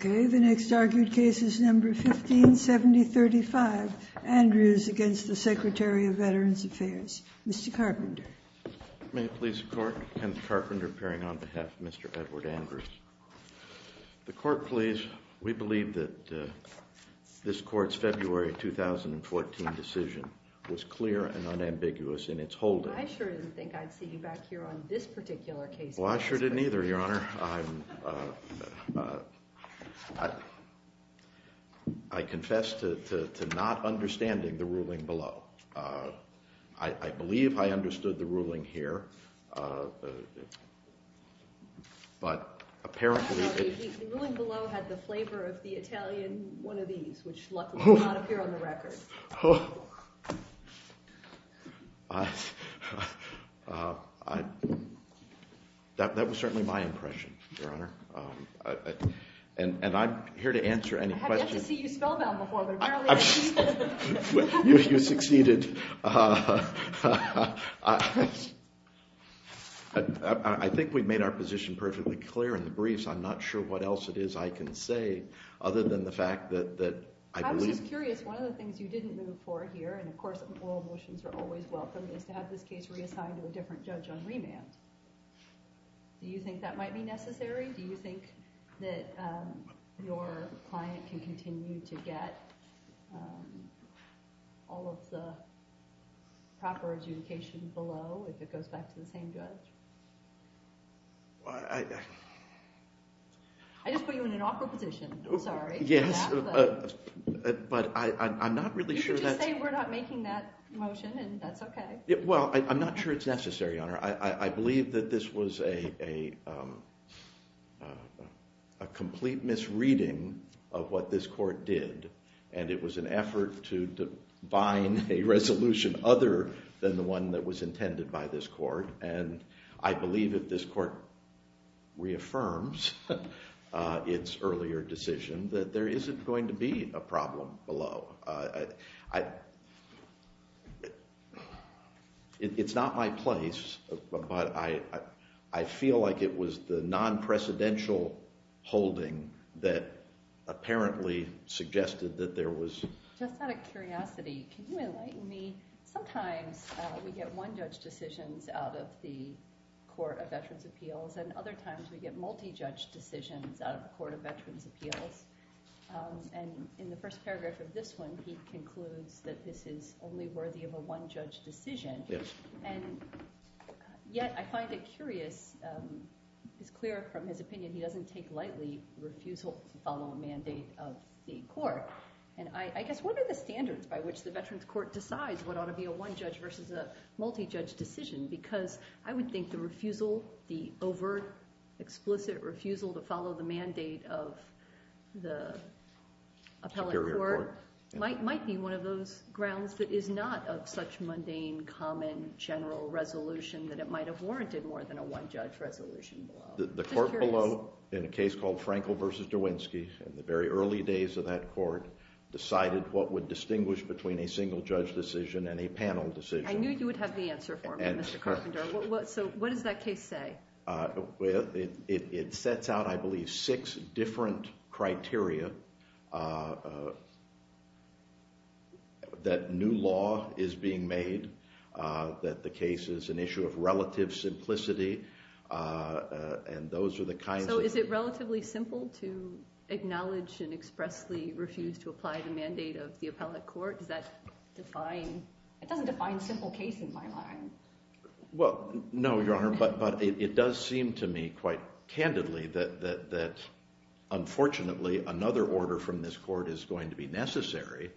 1570.35 Andrews v. Secretary of Veterans Affairs Mr. Carpenter May it please the Court, Kenneth Carpenter appearing on behalf of Mr. Edward Andrews. The Court please. We believe that this Court's February 2014 decision was clear and unambiguous in its holding. I sure didn't think I'd see you back here on this particular case, Mr. Carpenter. Well, I sure didn't either, Your Honor. I confess to not understanding the ruling below. I believe I understood the ruling here, but apparently it— The ruling below had the flavor of the Italian one of these, which luckily did not appear on the record. That was certainly my impression, Your Honor, and I'm here to answer any questions— I have yet to see you spell them before, but apparently— You succeeded. I think we've made our position perfectly clear in the briefs. I'm not sure what else it is I can say other than the fact that I believe— I was just curious. One of the things you didn't move for here, and of course all motions are always welcome, is to have this case reassigned to a different judge on remand. Do you think that might be necessary? Do you think that your client can continue to get all of the proper adjudication below if it goes back to the same judge? I just put you in an awkward position. I'm sorry. Yes, but I'm not really sure that— You could just say we're not making that motion and that's okay. Well, I'm not sure it's necessary, Your Honor. I believe that this was a complete misreading of what this court did, and it was an effort to bind a resolution other than the one that was intended by this court, and I believe if this court reaffirms its earlier decision that there isn't going to be a problem below. It's not my place, but I feel like it was the non-precedential holding that apparently suggested that there was— Just out of curiosity, can you enlighten me? Sometimes we get one-judge decisions out of the Court of Veterans' Appeals, and other times we get multi-judge decisions out of the Court of Veterans' Appeals. And in the first paragraph of this one, he concludes that this is only worthy of a one-judge decision. And yet I find it curious. It's clear from his opinion he doesn't take lightly the refusal to follow a mandate of the court. And I guess what are the standards by which the Veterans' Court decides what ought to be a one-judge versus a multi-judge decision? Because I would think the refusal, the overt, explicit refusal to follow the mandate of the appellate court— Superior court. —might be one of those grounds that is not of such mundane, common, general resolution that it might have warranted more than a one-judge resolution below. The court below, in a case called Frankel v. Derwinski, in the very early days of that court, decided what would distinguish between a single-judge decision and a panel decision. I knew you would have the answer for me, Mr. Carpenter. So what does that case say? It sets out, I believe, six different criteria that new law is being made, that the case is an issue of relative simplicity, and those are the kinds of— So is it relatively simple to acknowledge and expressly refuse to apply the mandate of the appellate court? Does that define—it doesn't define simple case in my mind. Well, no, Your Honor, but it does seem to me quite candidly that unfortunately another order from this court is going to be necessary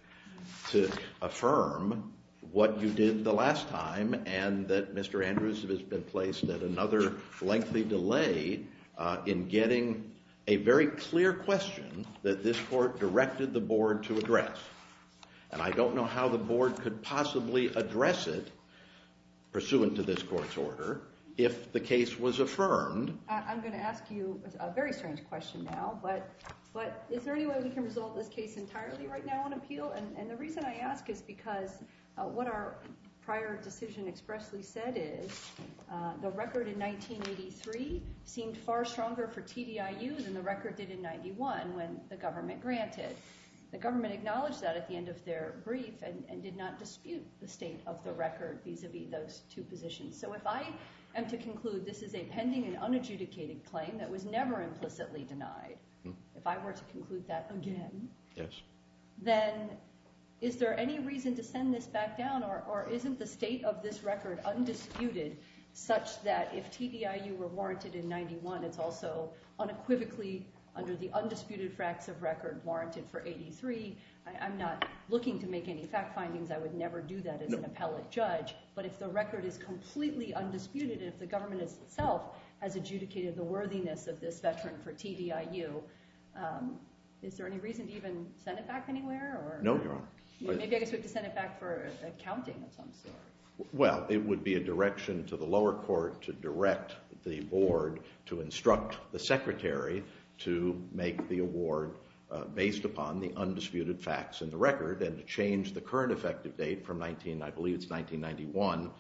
to affirm what you did the last time and that Mr. Andrews has been placed at another lengthy delay in getting a very clear question that this court directed the board to address. And I don't know how the board could possibly address it, pursuant to this court's order, if the case was affirmed. I'm going to ask you a very strange question now, but is there any way we can resolve this case entirely right now on appeal? And the reason I ask is because what our prior decision expressly said is the record in 1983 seemed far stronger for TDIU than the record did in 91 when the government granted. The government acknowledged that at the end of their brief and did not dispute the state of the record vis-a-vis those two positions. So if I am to conclude this is a pending and unadjudicated claim that was never implicitly denied, if I were to conclude that again, then is there any reason to send this back down or isn't the state of this record undisputed such that if TDIU were warranted in 91, it's also unequivocally under the undisputed fracts of record warranted for 83? I'm not looking to make any fact findings. I would never do that as an appellate judge. But if the record is completely undisputed, if the government itself has adjudicated the worthiness of this veteran for TDIU, is there any reason to even send it back anywhere? No, Your Honor. Maybe I guess we have to send it back for accounting of some sort. Well, it would be a direction to the lower court to direct the board to instruct the secretary to make the award based upon the undisputed facts in the record and to change the current effective date from 19, I believe it's 1991,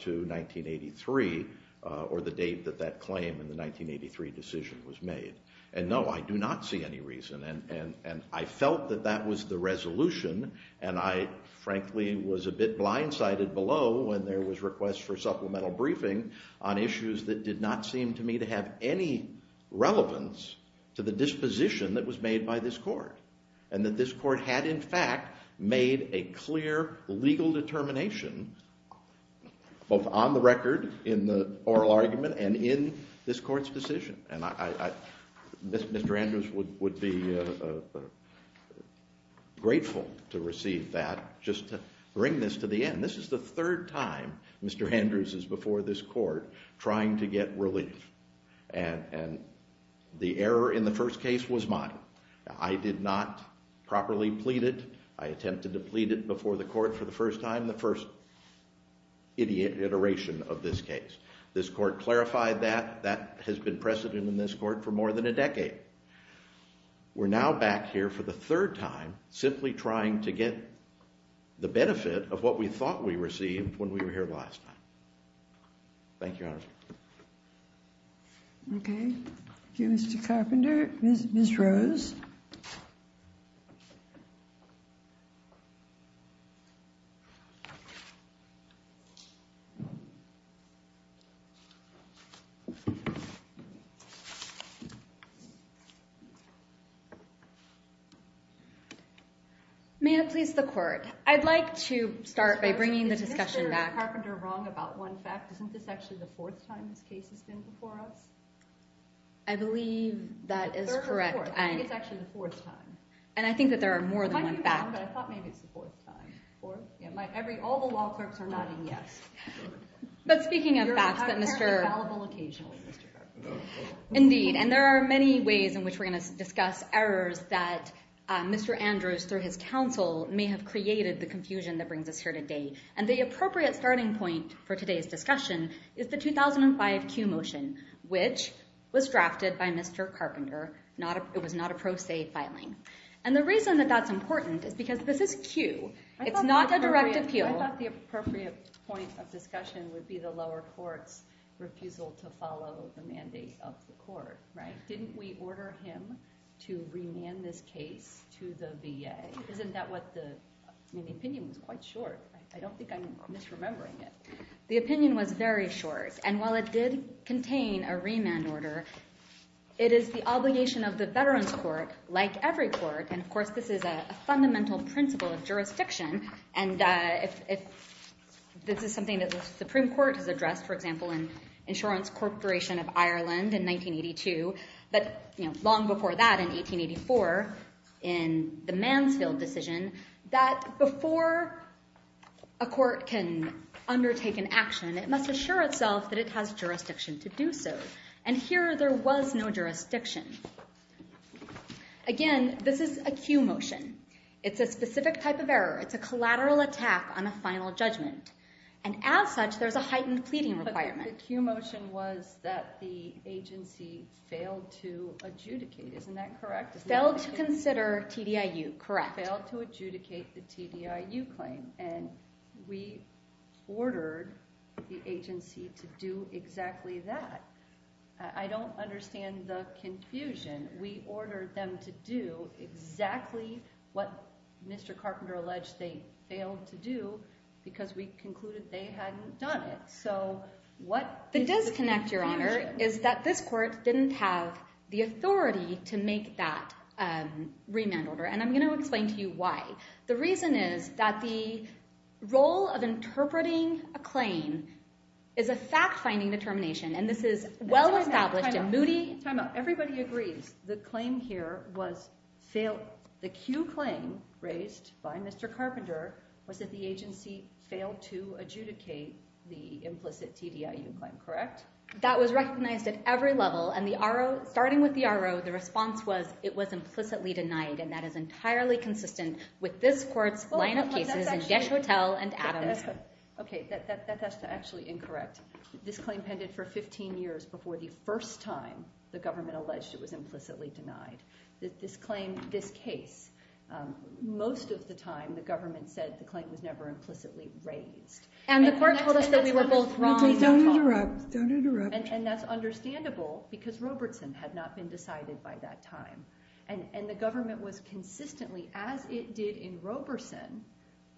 to 1983 or the date that that claim in the 1983 decision was made. And no, I do not see any reason. And I felt that that was the resolution, and I frankly was a bit blindsided below when there was requests for supplemental briefing on issues that did not seem to me to have any relevance to the disposition that was made by this court and that this court had in fact made a clear legal determination both on the record in the oral argument and in this court's decision. Mr. Andrews would be grateful to receive that, just to bring this to the end. This is the third time Mr. Andrews is before this court trying to get relief, and the error in the first case was mine. I did not properly plead it. I attempted to plead it before the court for the first time, the first iteration of this case. This court clarified that. That has been precedent in this court for more than a decade. We're now back here for the third time simply trying to get the benefit of what we thought we received when we were here last time. Thank you, Your Honor. Okay. Thank you, Mr. Carpenter. Ms. Rose. Ms. Rose, is Mr. Carpenter wrong about one fact? Isn't this actually the fourth time this case has been before us? I believe that is correct. I think it's actually the fourth time. And I think that there are more than one fact. I thought maybe it's the fourth time. All the law clerks are nodding yes. But speaking of fact, I think that there are more than one fact. Mr. Carpenter. Indeed. And there are many ways in which we're going to discuss errors that Mr. Andrews, through his counsel, may have created the confusion that brings us here today. And the appropriate starting point for today's discussion is the 2005 Q motion, which was drafted by Mr. Carpenter. It was not a pro se filing. And the reason that that's important is because this is Q. It's not a direct appeal. I thought the appropriate point of discussion would be the lower court's refusal to follow the mandate of the court. Didn't we order him to remand this case to the VA? Isn't that what the opinion was? It was quite short. I don't think I'm misremembering it. The opinion was very short. And while it did contain a remand order, it is the obligation of the Veterans Court, like every court, and of course this is a fundamental principle of jurisdiction, and this is something that the Supreme Court has addressed, for example, in Insurance Corporation of Ireland in 1982, but long before that in 1884 in the Mansfield decision, that before a court can undertake an action, it must assure itself that it has jurisdiction to do so. And here there was no jurisdiction. Again, this is a Q motion. It's a specific type of error. It's a collateral attack on a final judgment. And as such, there's a heightened pleading requirement. But the Q motion was that the agency failed to adjudicate. Isn't that correct? Failed to consider TDIU, correct. Failed to adjudicate the TDIU claim, and we ordered the agency to do exactly that. I don't understand the confusion. We ordered them to do exactly what Mr. Carpenter alleged they failed to do because we concluded they hadn't done it. So what is the confusion? The disconnect, Your Honor, is that this court didn't have the authority to make that remand order, and I'm going to explain to you why. The reason is that the role of interpreting a claim is a fact-finding determination, and this is well-established and moody. Time out. Everybody agrees the claim here was failed. The Q claim raised by Mr. Carpenter was that the agency failed to adjudicate the implicit TDIU claim, correct? That was recognized at every level, and starting with the RO, the response was it was implicitly denied, and that is entirely consistent with this court's lineup cases in Jeshotel and Adams. Okay, that's actually incorrect. This claim pended for 15 years before the first time the government alleged it was implicitly denied. This claim, this case, most of the time the government said the claim was never implicitly raised. And the court told us that we were both wrong. Don't interrupt. Don't interrupt. And that's understandable because Robertson had not been decided by that time, and the government was consistently, as it did in Roberson,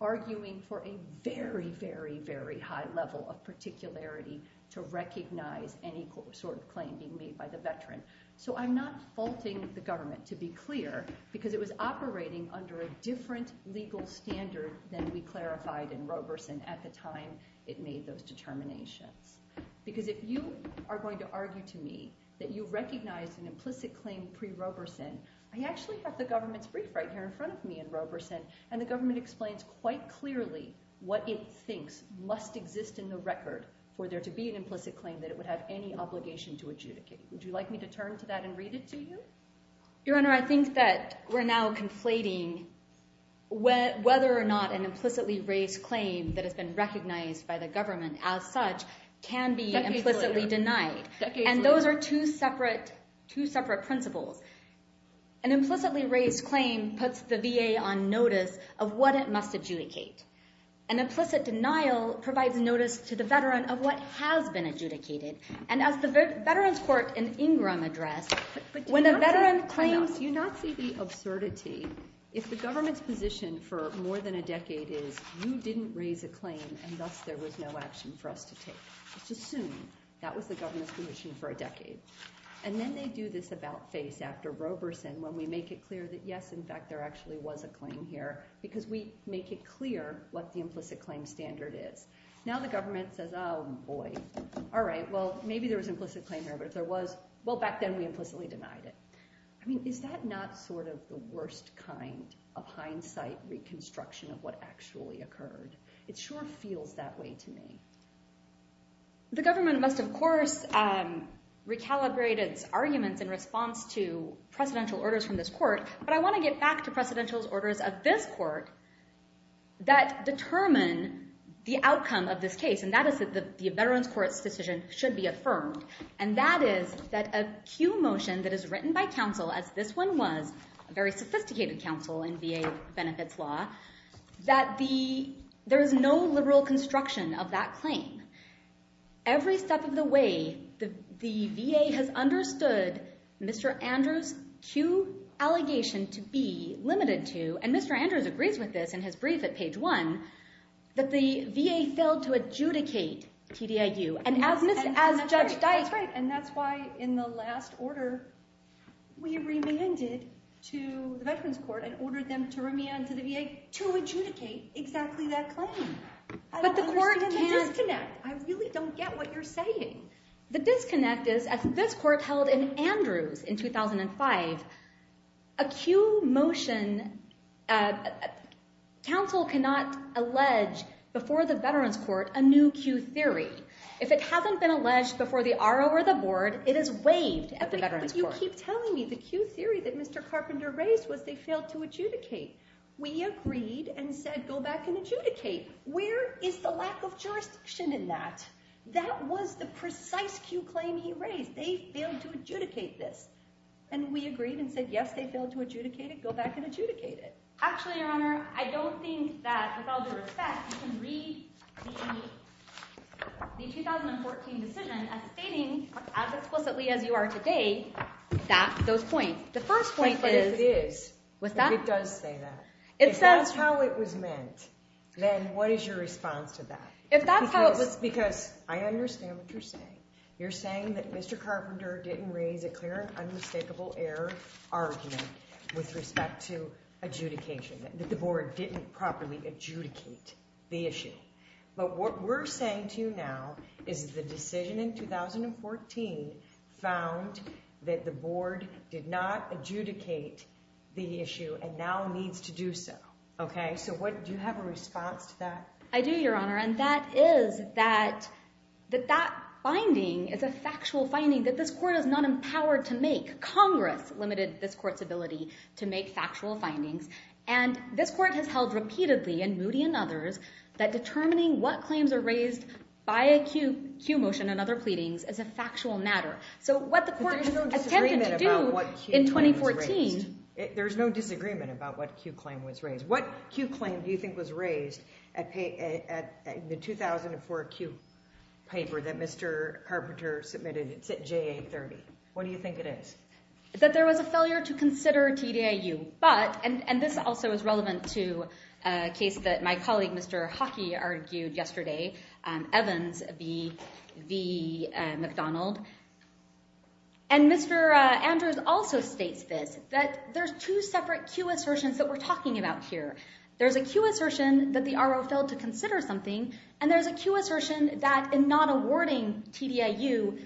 arguing for a very, very, very high level of particularity to recognize any sort of claim being made by the veteran. So I'm not faulting the government, to be clear, because it was operating under a different legal standard than we clarified in Roberson at the time it made those determinations. Because if you are going to argue to me that you recognize an implicit claim pre-Roberson, and the government explains quite clearly what it thinks must exist in the record for there to be an implicit claim that it would have any obligation to adjudicate, would you like me to turn to that and read it to you? Your Honor, I think that we're now conflating whether or not an implicitly raised claim that has been recognized by the government as such can be implicitly denied. And those are two separate principles. An implicitly raised claim puts the VA on notice of what it must adjudicate. An implicit denial provides notice to the veteran of what has been adjudicated. And as the Veterans Court in Ingram addressed, when a veteran claims... Do you not see the absurdity? If the government's position for more than a decade is, you didn't raise a claim, and thus there was no action for us to take. Just assume that was the government's position for a decade. And then they do this about-face after Roberson when we make it clear that, yes, in fact, there actually was a claim here because we make it clear what the implicit claim standard is. Now the government says, oh, boy. All right, well, maybe there was an implicit claim here, but if there was, well, back then we implicitly denied it. I mean, is that not sort of the worst kind of hindsight reconstruction of what actually occurred? It sure feels that way to me. The government must, of course, recalibrate its arguments in response to precedential orders from this court, but I want to get back to precedential orders of this court that determine the outcome of this case, and that is that the Veterans Court's decision should be affirmed. And that is that a Q motion that is written by counsel, as this one was, a very sophisticated counsel in VA benefits law, that there is no liberal construction of that claim. Every step of the way, the VA has understood Mr. Andrews' Q allegation to be limited to, and Mr. Andrews agrees with this in his brief at page 1, that the VA failed to adjudicate TDIU. And as Judge Dyke... That's right, and that's why in the last order we remanded to the Veterans Court and ordered them to remand to the VA to adjudicate exactly that claim. I don't understand the disconnect. I really don't get what you're saying. The disconnect is, as this court held in Andrews in 2005, a Q motion... Counsel cannot allege before the Veterans Court a new Q theory. If it hasn't been alleged before the RO or the board, it is waived at the Veterans Court. But you keep telling me the Q theory that Mr. Carpenter raised was they failed to adjudicate. We agreed and said, go back and adjudicate. Where is the lack of jurisdiction in that? That was the precise Q claim he raised. They failed to adjudicate this. And we agreed and said, yes, they failed to adjudicate it, go back and adjudicate it. Actually, Your Honor, I don't think that, with all due respect, you can read the 2014 decision as stating, as explicitly as you are today, those points. The first point is... It does say that. If that's how it was meant, then what is your response to that? Because I understand what you're saying. You're saying that Mr. Carpenter didn't raise a clear and unmistakable error argument with respect to adjudication, that the board didn't properly adjudicate the issue. But what we're saying to you now is the decision in 2014 found that the board did not adjudicate the issue and now needs to do so. Okay? So do you have a response to that? I do, Your Honor, and that is that that finding is a factual finding that this court is not empowered to make. Congress limited this court's ability to make factual findings. And this court has held repeatedly in Moody and others that determining what claims are raised by a Q motion and other pleadings is a factual matter. But there's no disagreement about what Q claim was raised. There's no disagreement about what Q claim was raised. What Q claim do you think was raised in the 2004 Q paper that Mr. Carpenter submitted? It's at JA30. What do you think it is? That there was a failure to consider TDIU. And this also is relevant to a case that my colleague, Mr. Hockey, argued yesterday, Evans v. McDonald. And Mr. Andrews also states this, that there's two separate Q assertions that we're talking about here. There's a Q assertion that the RO failed to consider something, and there's a Q assertion that in not awarding TDIU,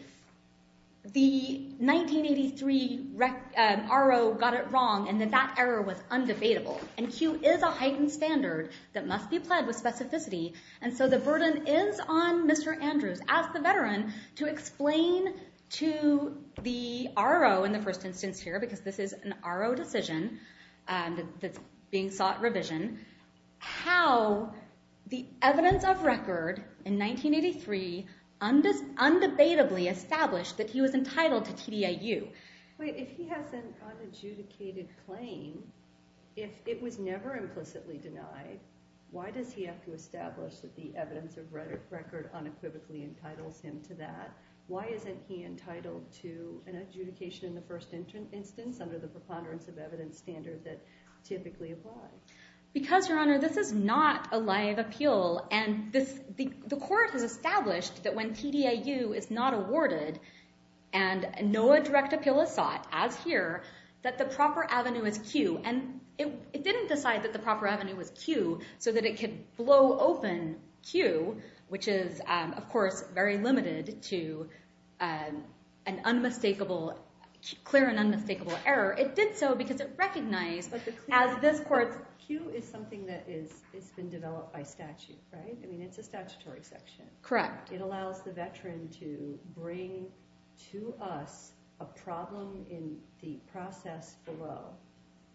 the 1983 RO got it wrong and that that error was undebatable. And Q is a heightened standard that must be pled with specificity. And so the burden is on Mr. Andrews as the veteran to explain to the RO in the first instance here, because this is an RO decision that's being sought revision, how the evidence of record in 1983 undebatably established that he was entitled to TDIU. If he has an unadjudicated claim, if it was never implicitly denied, why does he have to establish that the evidence of record unequivocally entitles him to that? Why isn't he entitled to an adjudication in the first instance under the preponderance of evidence standard that typically applies? Because, Your Honor, this is not a live appeal. And the court has established that when TDIU is not awarded and no direct appeal is sought, as here, that the proper avenue is Q. And it didn't decide that the proper avenue was Q so that it could blow open Q, which is, of course, very limited to an unmistakable, clear and unmistakable error. It did so because it recognized as this court... But Q is something that has been developed by statute, right? I mean, it's a statutory section. Correct. It allows the veteran to bring to us a problem in the process below.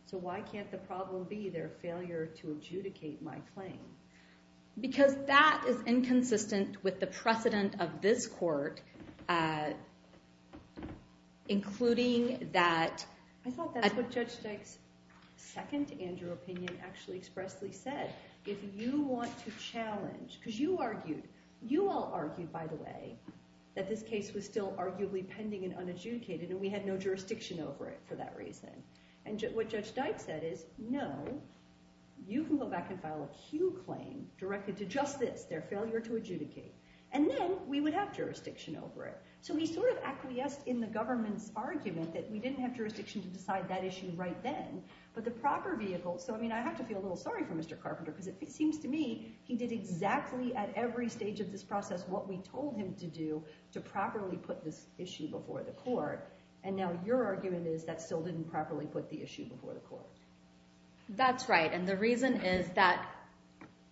So why can't the problem be their failure to adjudicate my claim? Because that is inconsistent with the precedent of this court, including that... I thought that's what Judge Steig's second Andrew opinion actually expressly said. If you want to challenge... Because you argued... You all argued, by the way, that this case was still arguably pending and unadjudicated and we had no jurisdiction over it for that reason. And what Judge Steig said is, no, you can go back and file a Q claim directed to justice, their failure to adjudicate. And then we would have jurisdiction over it. So he sort of acquiesced in the government's argument that we didn't have jurisdiction to decide that issue right then, but the proper vehicle... So, I mean, I have to feel a little sorry for Mr. Carpenter because it seems to me he did exactly at every stage of this process what we told him to do to properly put this issue before the court. And now your argument is that still didn't properly put the issue before the court. That's right. And the reason is that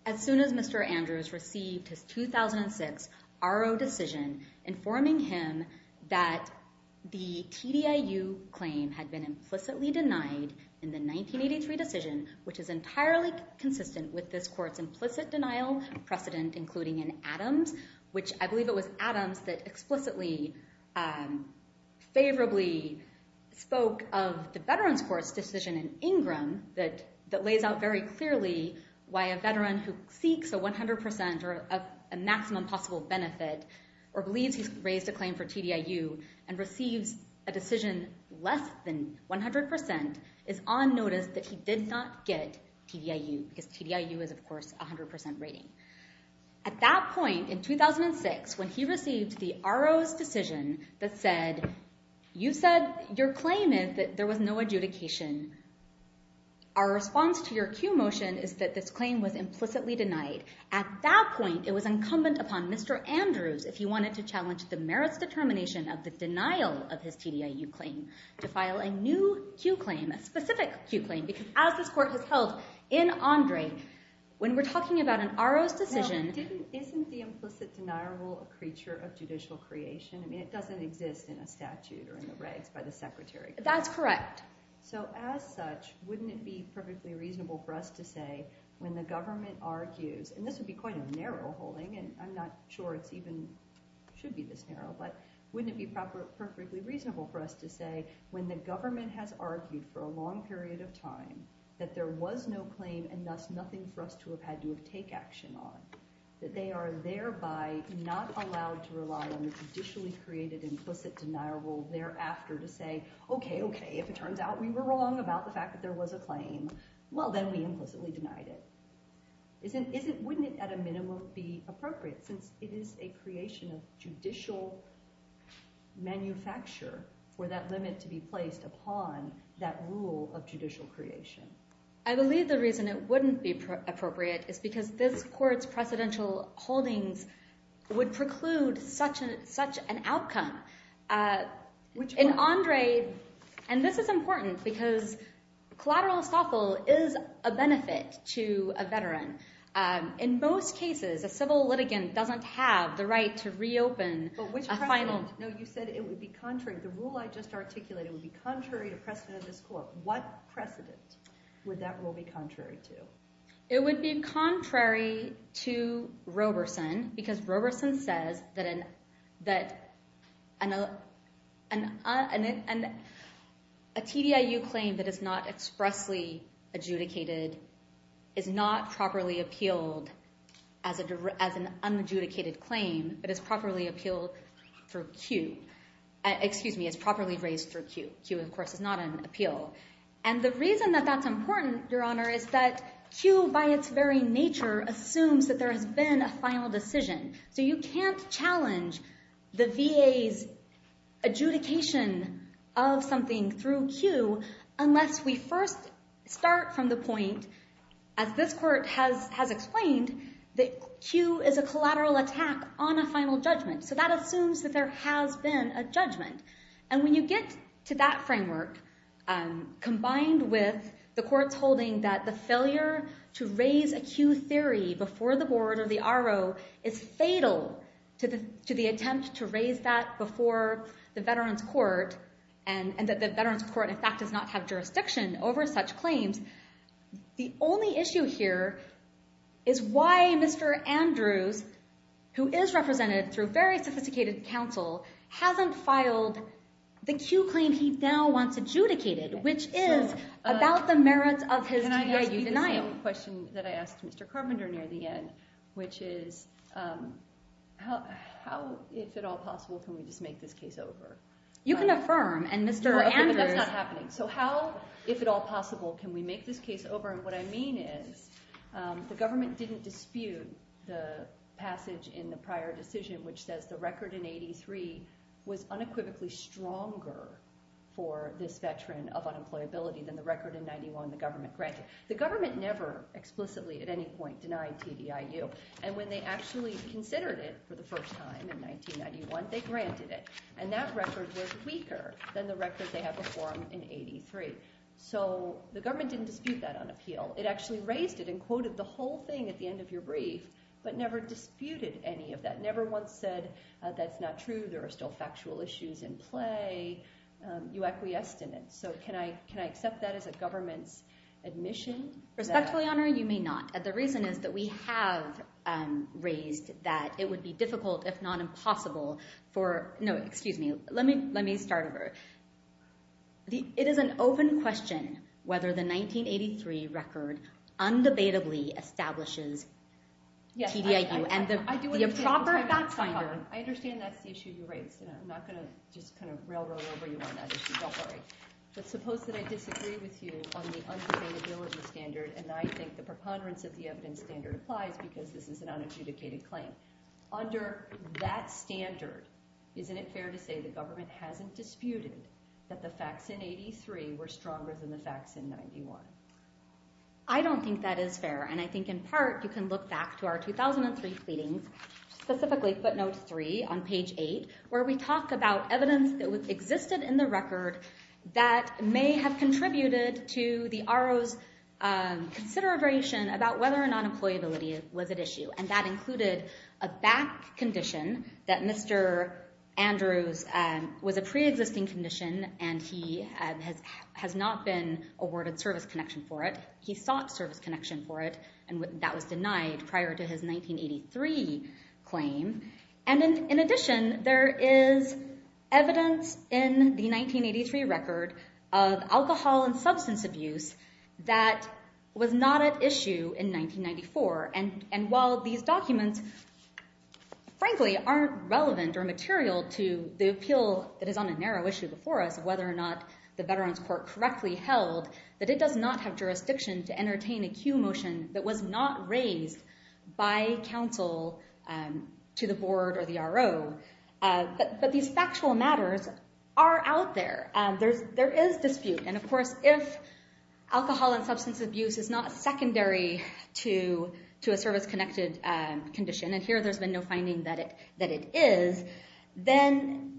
as soon as Mr. Andrews received his 2006 RO decision informing him that the TDIU claim had been implicitly denied in the 1983 decision, which is entirely consistent with this court's implicit denial precedent, including in Adams, which I believe it was Adams that explicitly, favorably, spoke of the Veterans Court's decision in Ingram that lays out very clearly why a veteran who seeks a 100% or a maximum possible benefit or believes he's raised a claim for TDIU and receives a decision less than 100% is on notice that he did not get TDIU because TDIU is, of course, a 100% rating. At that point, in 2006, when he received the RO's decision that said, you said your claim is that there was no adjudication. Our response to your cue motion is that this claim was implicitly denied. At that point, it was incumbent upon Mr. Andrews if he wanted to challenge the merits determination of the denial of his TDIU claim to file a new cue claim, a specific cue claim, because as this court has held in Andre, when we're talking about an RO's decision... Now, isn't the implicit denial rule a creature of judicial creation? I mean, it doesn't exist in a statute or in the regs by the Secretary. That's correct. So as such, wouldn't it be perfectly reasonable for us to say when the government argues, and this would be quite a narrow holding, and I'm not sure it even should be this narrow, but wouldn't it be perfectly reasonable for us to say when the government has argued for a long period of time that there was no claim and thus nothing for us to have had to take action on, that they are thereby not allowed to rely on the judicially created implicit denial rule thereafter to say, okay, okay, if it turns out we were wrong about the fact that there was a claim, well, then we implicitly denied it. Wouldn't it, at a minimum, be appropriate, since it is a creation of judicial manufacture for that limit to be placed upon that rule of judicial creation? I believe the reason it wouldn't be appropriate is because this Court's precedential holdings would preclude such an outcome. In Andre, and this is important, because collateral estoffel is a benefit to a veteran. In most cases, a civil litigant doesn't have the right to reopen a final... But which precedent? No, you said it would be contrary. The rule I just articulated would be contrary to precedent of this Court. What precedent would that rule be contrary to? It would be contrary to Roberson, because Roberson says that a TDIU claim that is not expressly adjudicated is not properly appealed as an unadjudicated claim, but is properly appealed through Q. Excuse me, is properly raised through Q. Q, of course, is not an appeal. And the reason that that's important, Your Honor, is that Q, by its very nature, assumes that there has been a final decision. So you can't challenge the VA's adjudication of something through Q unless we first start from the point, as this Court has explained, that Q is a collateral attack on a final judgment. So that assumes that there has been a judgment. And when you get to that framework, combined with the Court's holding that the failure to raise a Q theory before the board or the RO is fatal to the attempt to raise that before the Veterans Court, and that the Veterans Court, in fact, does not have jurisdiction over such claims, the only issue here is why Mr. Andrews, who is represented through very sophisticated counsel, hasn't filed the Q claim he now wants adjudicated, which is about the merits of his TDIU denial. Can I ask you the same question that I asked Mr. Carpenter near the end, which is, how, if at all possible, can we just make this case over? You can affirm, and Mr. Andrews... Okay, but that's not happening. So how, if at all possible, can we make this case over? And what I mean is, the government didn't dispute the passage in the prior decision which says the record in 83 was unequivocally stronger for this veteran of unemployability than the record in 91 the government granted. The government never explicitly, at any point, denied TDIU. And when they actually considered it for the first time in 1991, they granted it. And that record was weaker than the record they had before him in 83. So the government didn't dispute that on appeal. It actually raised it and quoted the whole thing at the end of your brief, but never disputed any of that, never once said, that's not true, there are still factual issues in play. You acquiesced in it. So can I accept that as a government's admission? Respectfully, Your Honor, you may not. The reason is that we have raised that it would be difficult, if not impossible, for... No, excuse me. Let me start over. It is an open question whether the 1983 record undebatably establishes TDIU and the proper fact-finder... I understand that's the issue you raised, and I'm not going to just kind of railroad over you on that issue. Don't worry. But suppose that I disagree with you on the undebatability standard, and I think the preponderance of the evidence standard applies because this is an unadjudicated claim. Under that standard, isn't it fair to say the government hasn't disputed that the facts in 83 were stronger than the facts in 91? I don't think that is fair, and I think in part you can look back to our 2003 pleadings, specifically footnote 3 on page 8, where we talk about evidence that existed in the record that may have contributed to the RO's consideration about whether or not employability was at issue, and that included a back condition that Mr. Andrews was a preexisting condition and he has not been awarded service connection for it. He sought service connection for it, and that was denied prior to his 1983 claim. And in addition, there is evidence in the 1983 record of alcohol and substance abuse that was not at issue in 1994, and while these documents frankly aren't relevant or material to the appeal that is on a narrow issue before us of whether or not the Veterans Court correctly held that it does not have jurisdiction to entertain a cue motion that was not raised by counsel to the board or the RO, but these factual matters are out there. There is dispute, and of course if alcohol and substance abuse is not secondary to a service-connected condition, and here there's been no finding that it is, then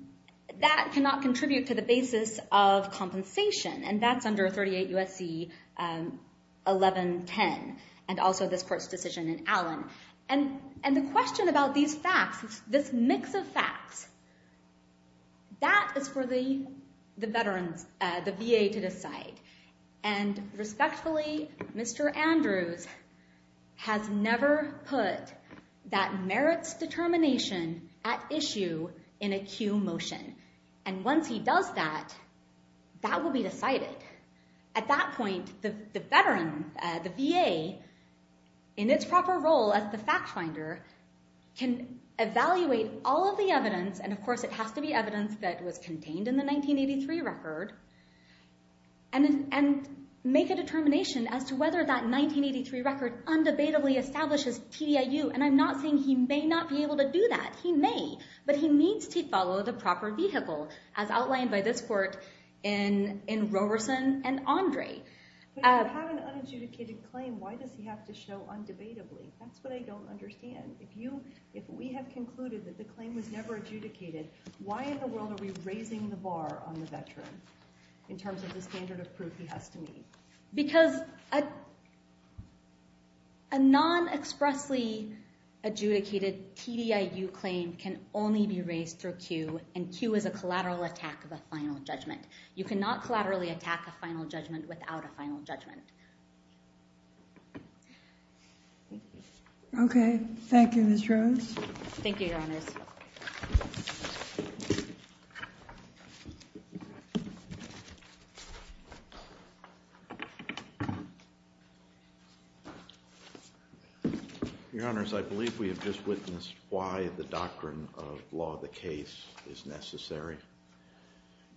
that cannot contribute to the basis of compensation, and that's under 38 U.S.C. 1110 and also this Court's decision in Allen. And the question about these facts, this mix of facts, that is for the VA to decide, and respectfully, Mr. Andrews has never put that merits determination at issue in a cue motion, and once he does that, that will be decided. At that point, the VA, in its proper role as the fact finder, can evaluate all of the evidence, and of course it has to be evidence that was contained in the 1983 record, and make a determination as to whether that 1983 record undebatably establishes TDIU, and I'm not saying he may not be able to do that. He may, but he needs to follow the proper vehicle as outlined by this Court in Roberson and Andre. But if you have an unadjudicated claim, why does he have to show undebatably? That's what I don't understand. If we have concluded that the claim was never adjudicated, why in the world are we raising the bar on the veteran in terms of the standard of proof he has to meet? Because a non-expressly adjudicated TDIU claim can only be raised through cue, and cue is a collateral attack of a final judgment. You cannot collaterally attack a final judgment without a final judgment. Thank you. Okay, thank you, Ms. Rose. Thank you, Your Honors. Your Honors, I believe we have just witnessed why the doctrine of law of the case is necessary.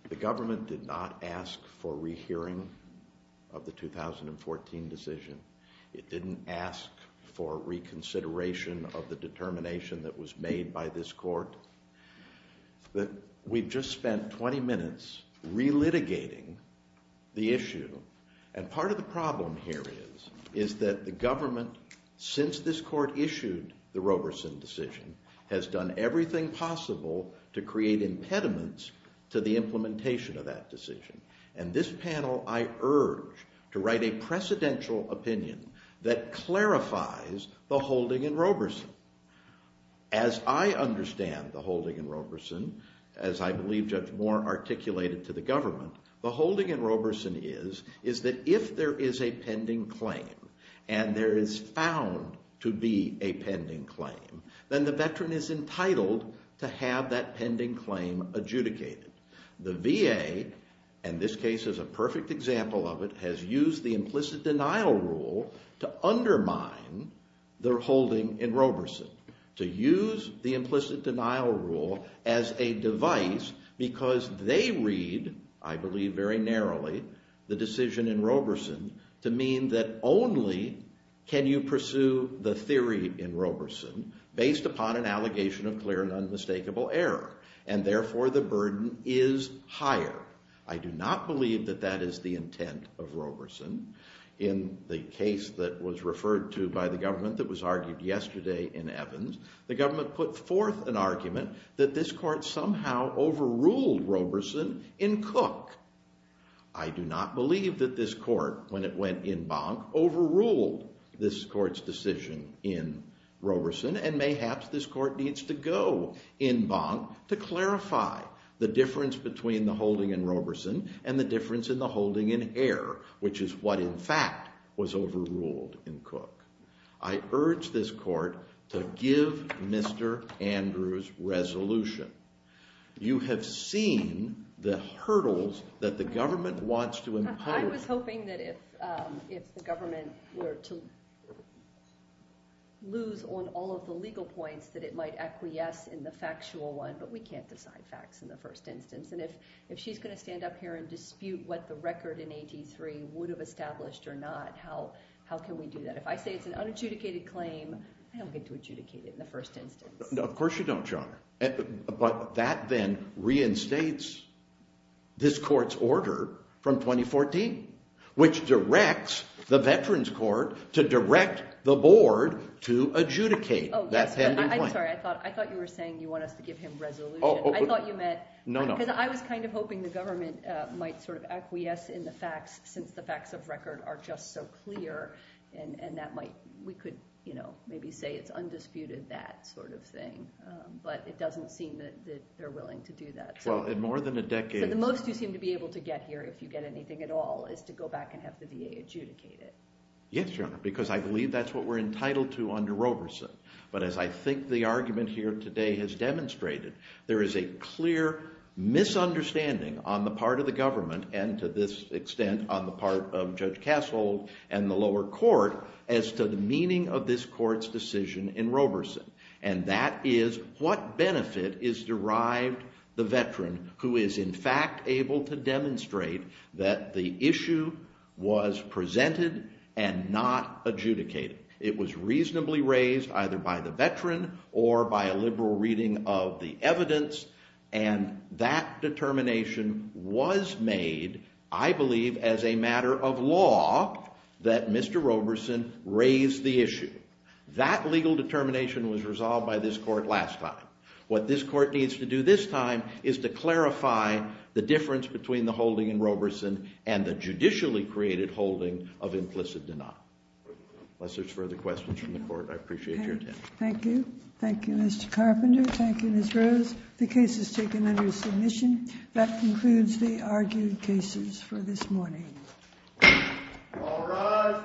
The government did not ask for a rehearing of the 2008 record of the 2014 decision. It didn't ask for reconsideration of the determination that was made by this Court. We've just spent 20 minutes relitigating the issue, and part of the problem here is that the government, since this Court issued the Roberson decision, has done everything possible to create impediments to the implementation of that decision. And this panel, I urge to write a precedential opinion that clarifies the holding in Roberson. As I understand the holding in Roberson, as I believe Judge Moore articulated to the government, the holding in Roberson is that if there is a pending claim and there is found to be a pending claim, then the veteran is entitled to have that pending claim adjudicated. The VA, and this case is a perfect example of it, has used the implicit denial rule to undermine their holding in Roberson, to use the implicit denial rule as a device because they read, I believe very narrowly, the decision in Roberson to mean that only can you pursue the theory in Roberson based upon an allegation of clear and unmistakable error, and therefore the burden is higher. I do not believe that that is the intent of Roberson. In the case that was referred to by the government that was argued yesterday in Evans, the government put forth an argument that this Court somehow overruled Roberson in Cook. I do not believe that this Court, when it went in Bonk, overruled this Court's decision in Roberson, and mayhaps this Court needs to go in Bonk to clarify the difference between the holding in Roberson and the difference in the holding in Hare, which is what, in fact, was overruled in Cook. I urge this Court to give Mr. Andrews resolution. I'm hoping that if the government were to lose on all of the legal points that it might acquiesce in the factual one, but we can't decide facts in the first instance. And if she's going to stand up here and dispute what the record in 83 would have established or not, how can we do that? If I say it's an unadjudicated claim, I don't get to adjudicate it in the first instance. Of course you don't, Your Honor. But that then reinstates this Court's order from 2014, which directs the Veterans Court to direct the Board to adjudicate that pending claim. I'm sorry. I thought you were saying you want us to give him resolution. I thought you meant... No, no. Because I was kind of hoping the government might sort of acquiesce in the facts, since the facts of record are just so clear, and that might... We could maybe say it's undisputed, that sort of thing. But it doesn't seem that they're willing to do that. Well, in more than a decade... So the most you seem to be able to get here, if you get anything at all, is to go back and have the VA adjudicate it. Yes, Your Honor, because I believe that's what we're entitled to under Roberson. But as I think the argument here today has demonstrated, there is a clear misunderstanding on the part of the government, and to this extent on the part of Judge Cassell and the lower court, as to the meaning of this Court's decision in Roberson. And that is, what benefit is derived the veteran who is, in fact, able to demonstrate that the issue was presented and not adjudicated? It was reasonably raised, either by the veteran or by a liberal reading of the evidence, and that determination was made, I believe, as a matter of law, that Mr. Roberson raise the issue. That legal determination was resolved by this Court last time. What this Court needs to do this time is to clarify the difference between the holding in Roberson and the judicially created holding of implicit denial. Unless there's further questions from the Court, I appreciate your attention. Thank you. Thank you, Mr. Carpenter. Thank you, Ms. Rose. The case is taken under submission. That concludes the argued cases for this morning. All rise. Thank you.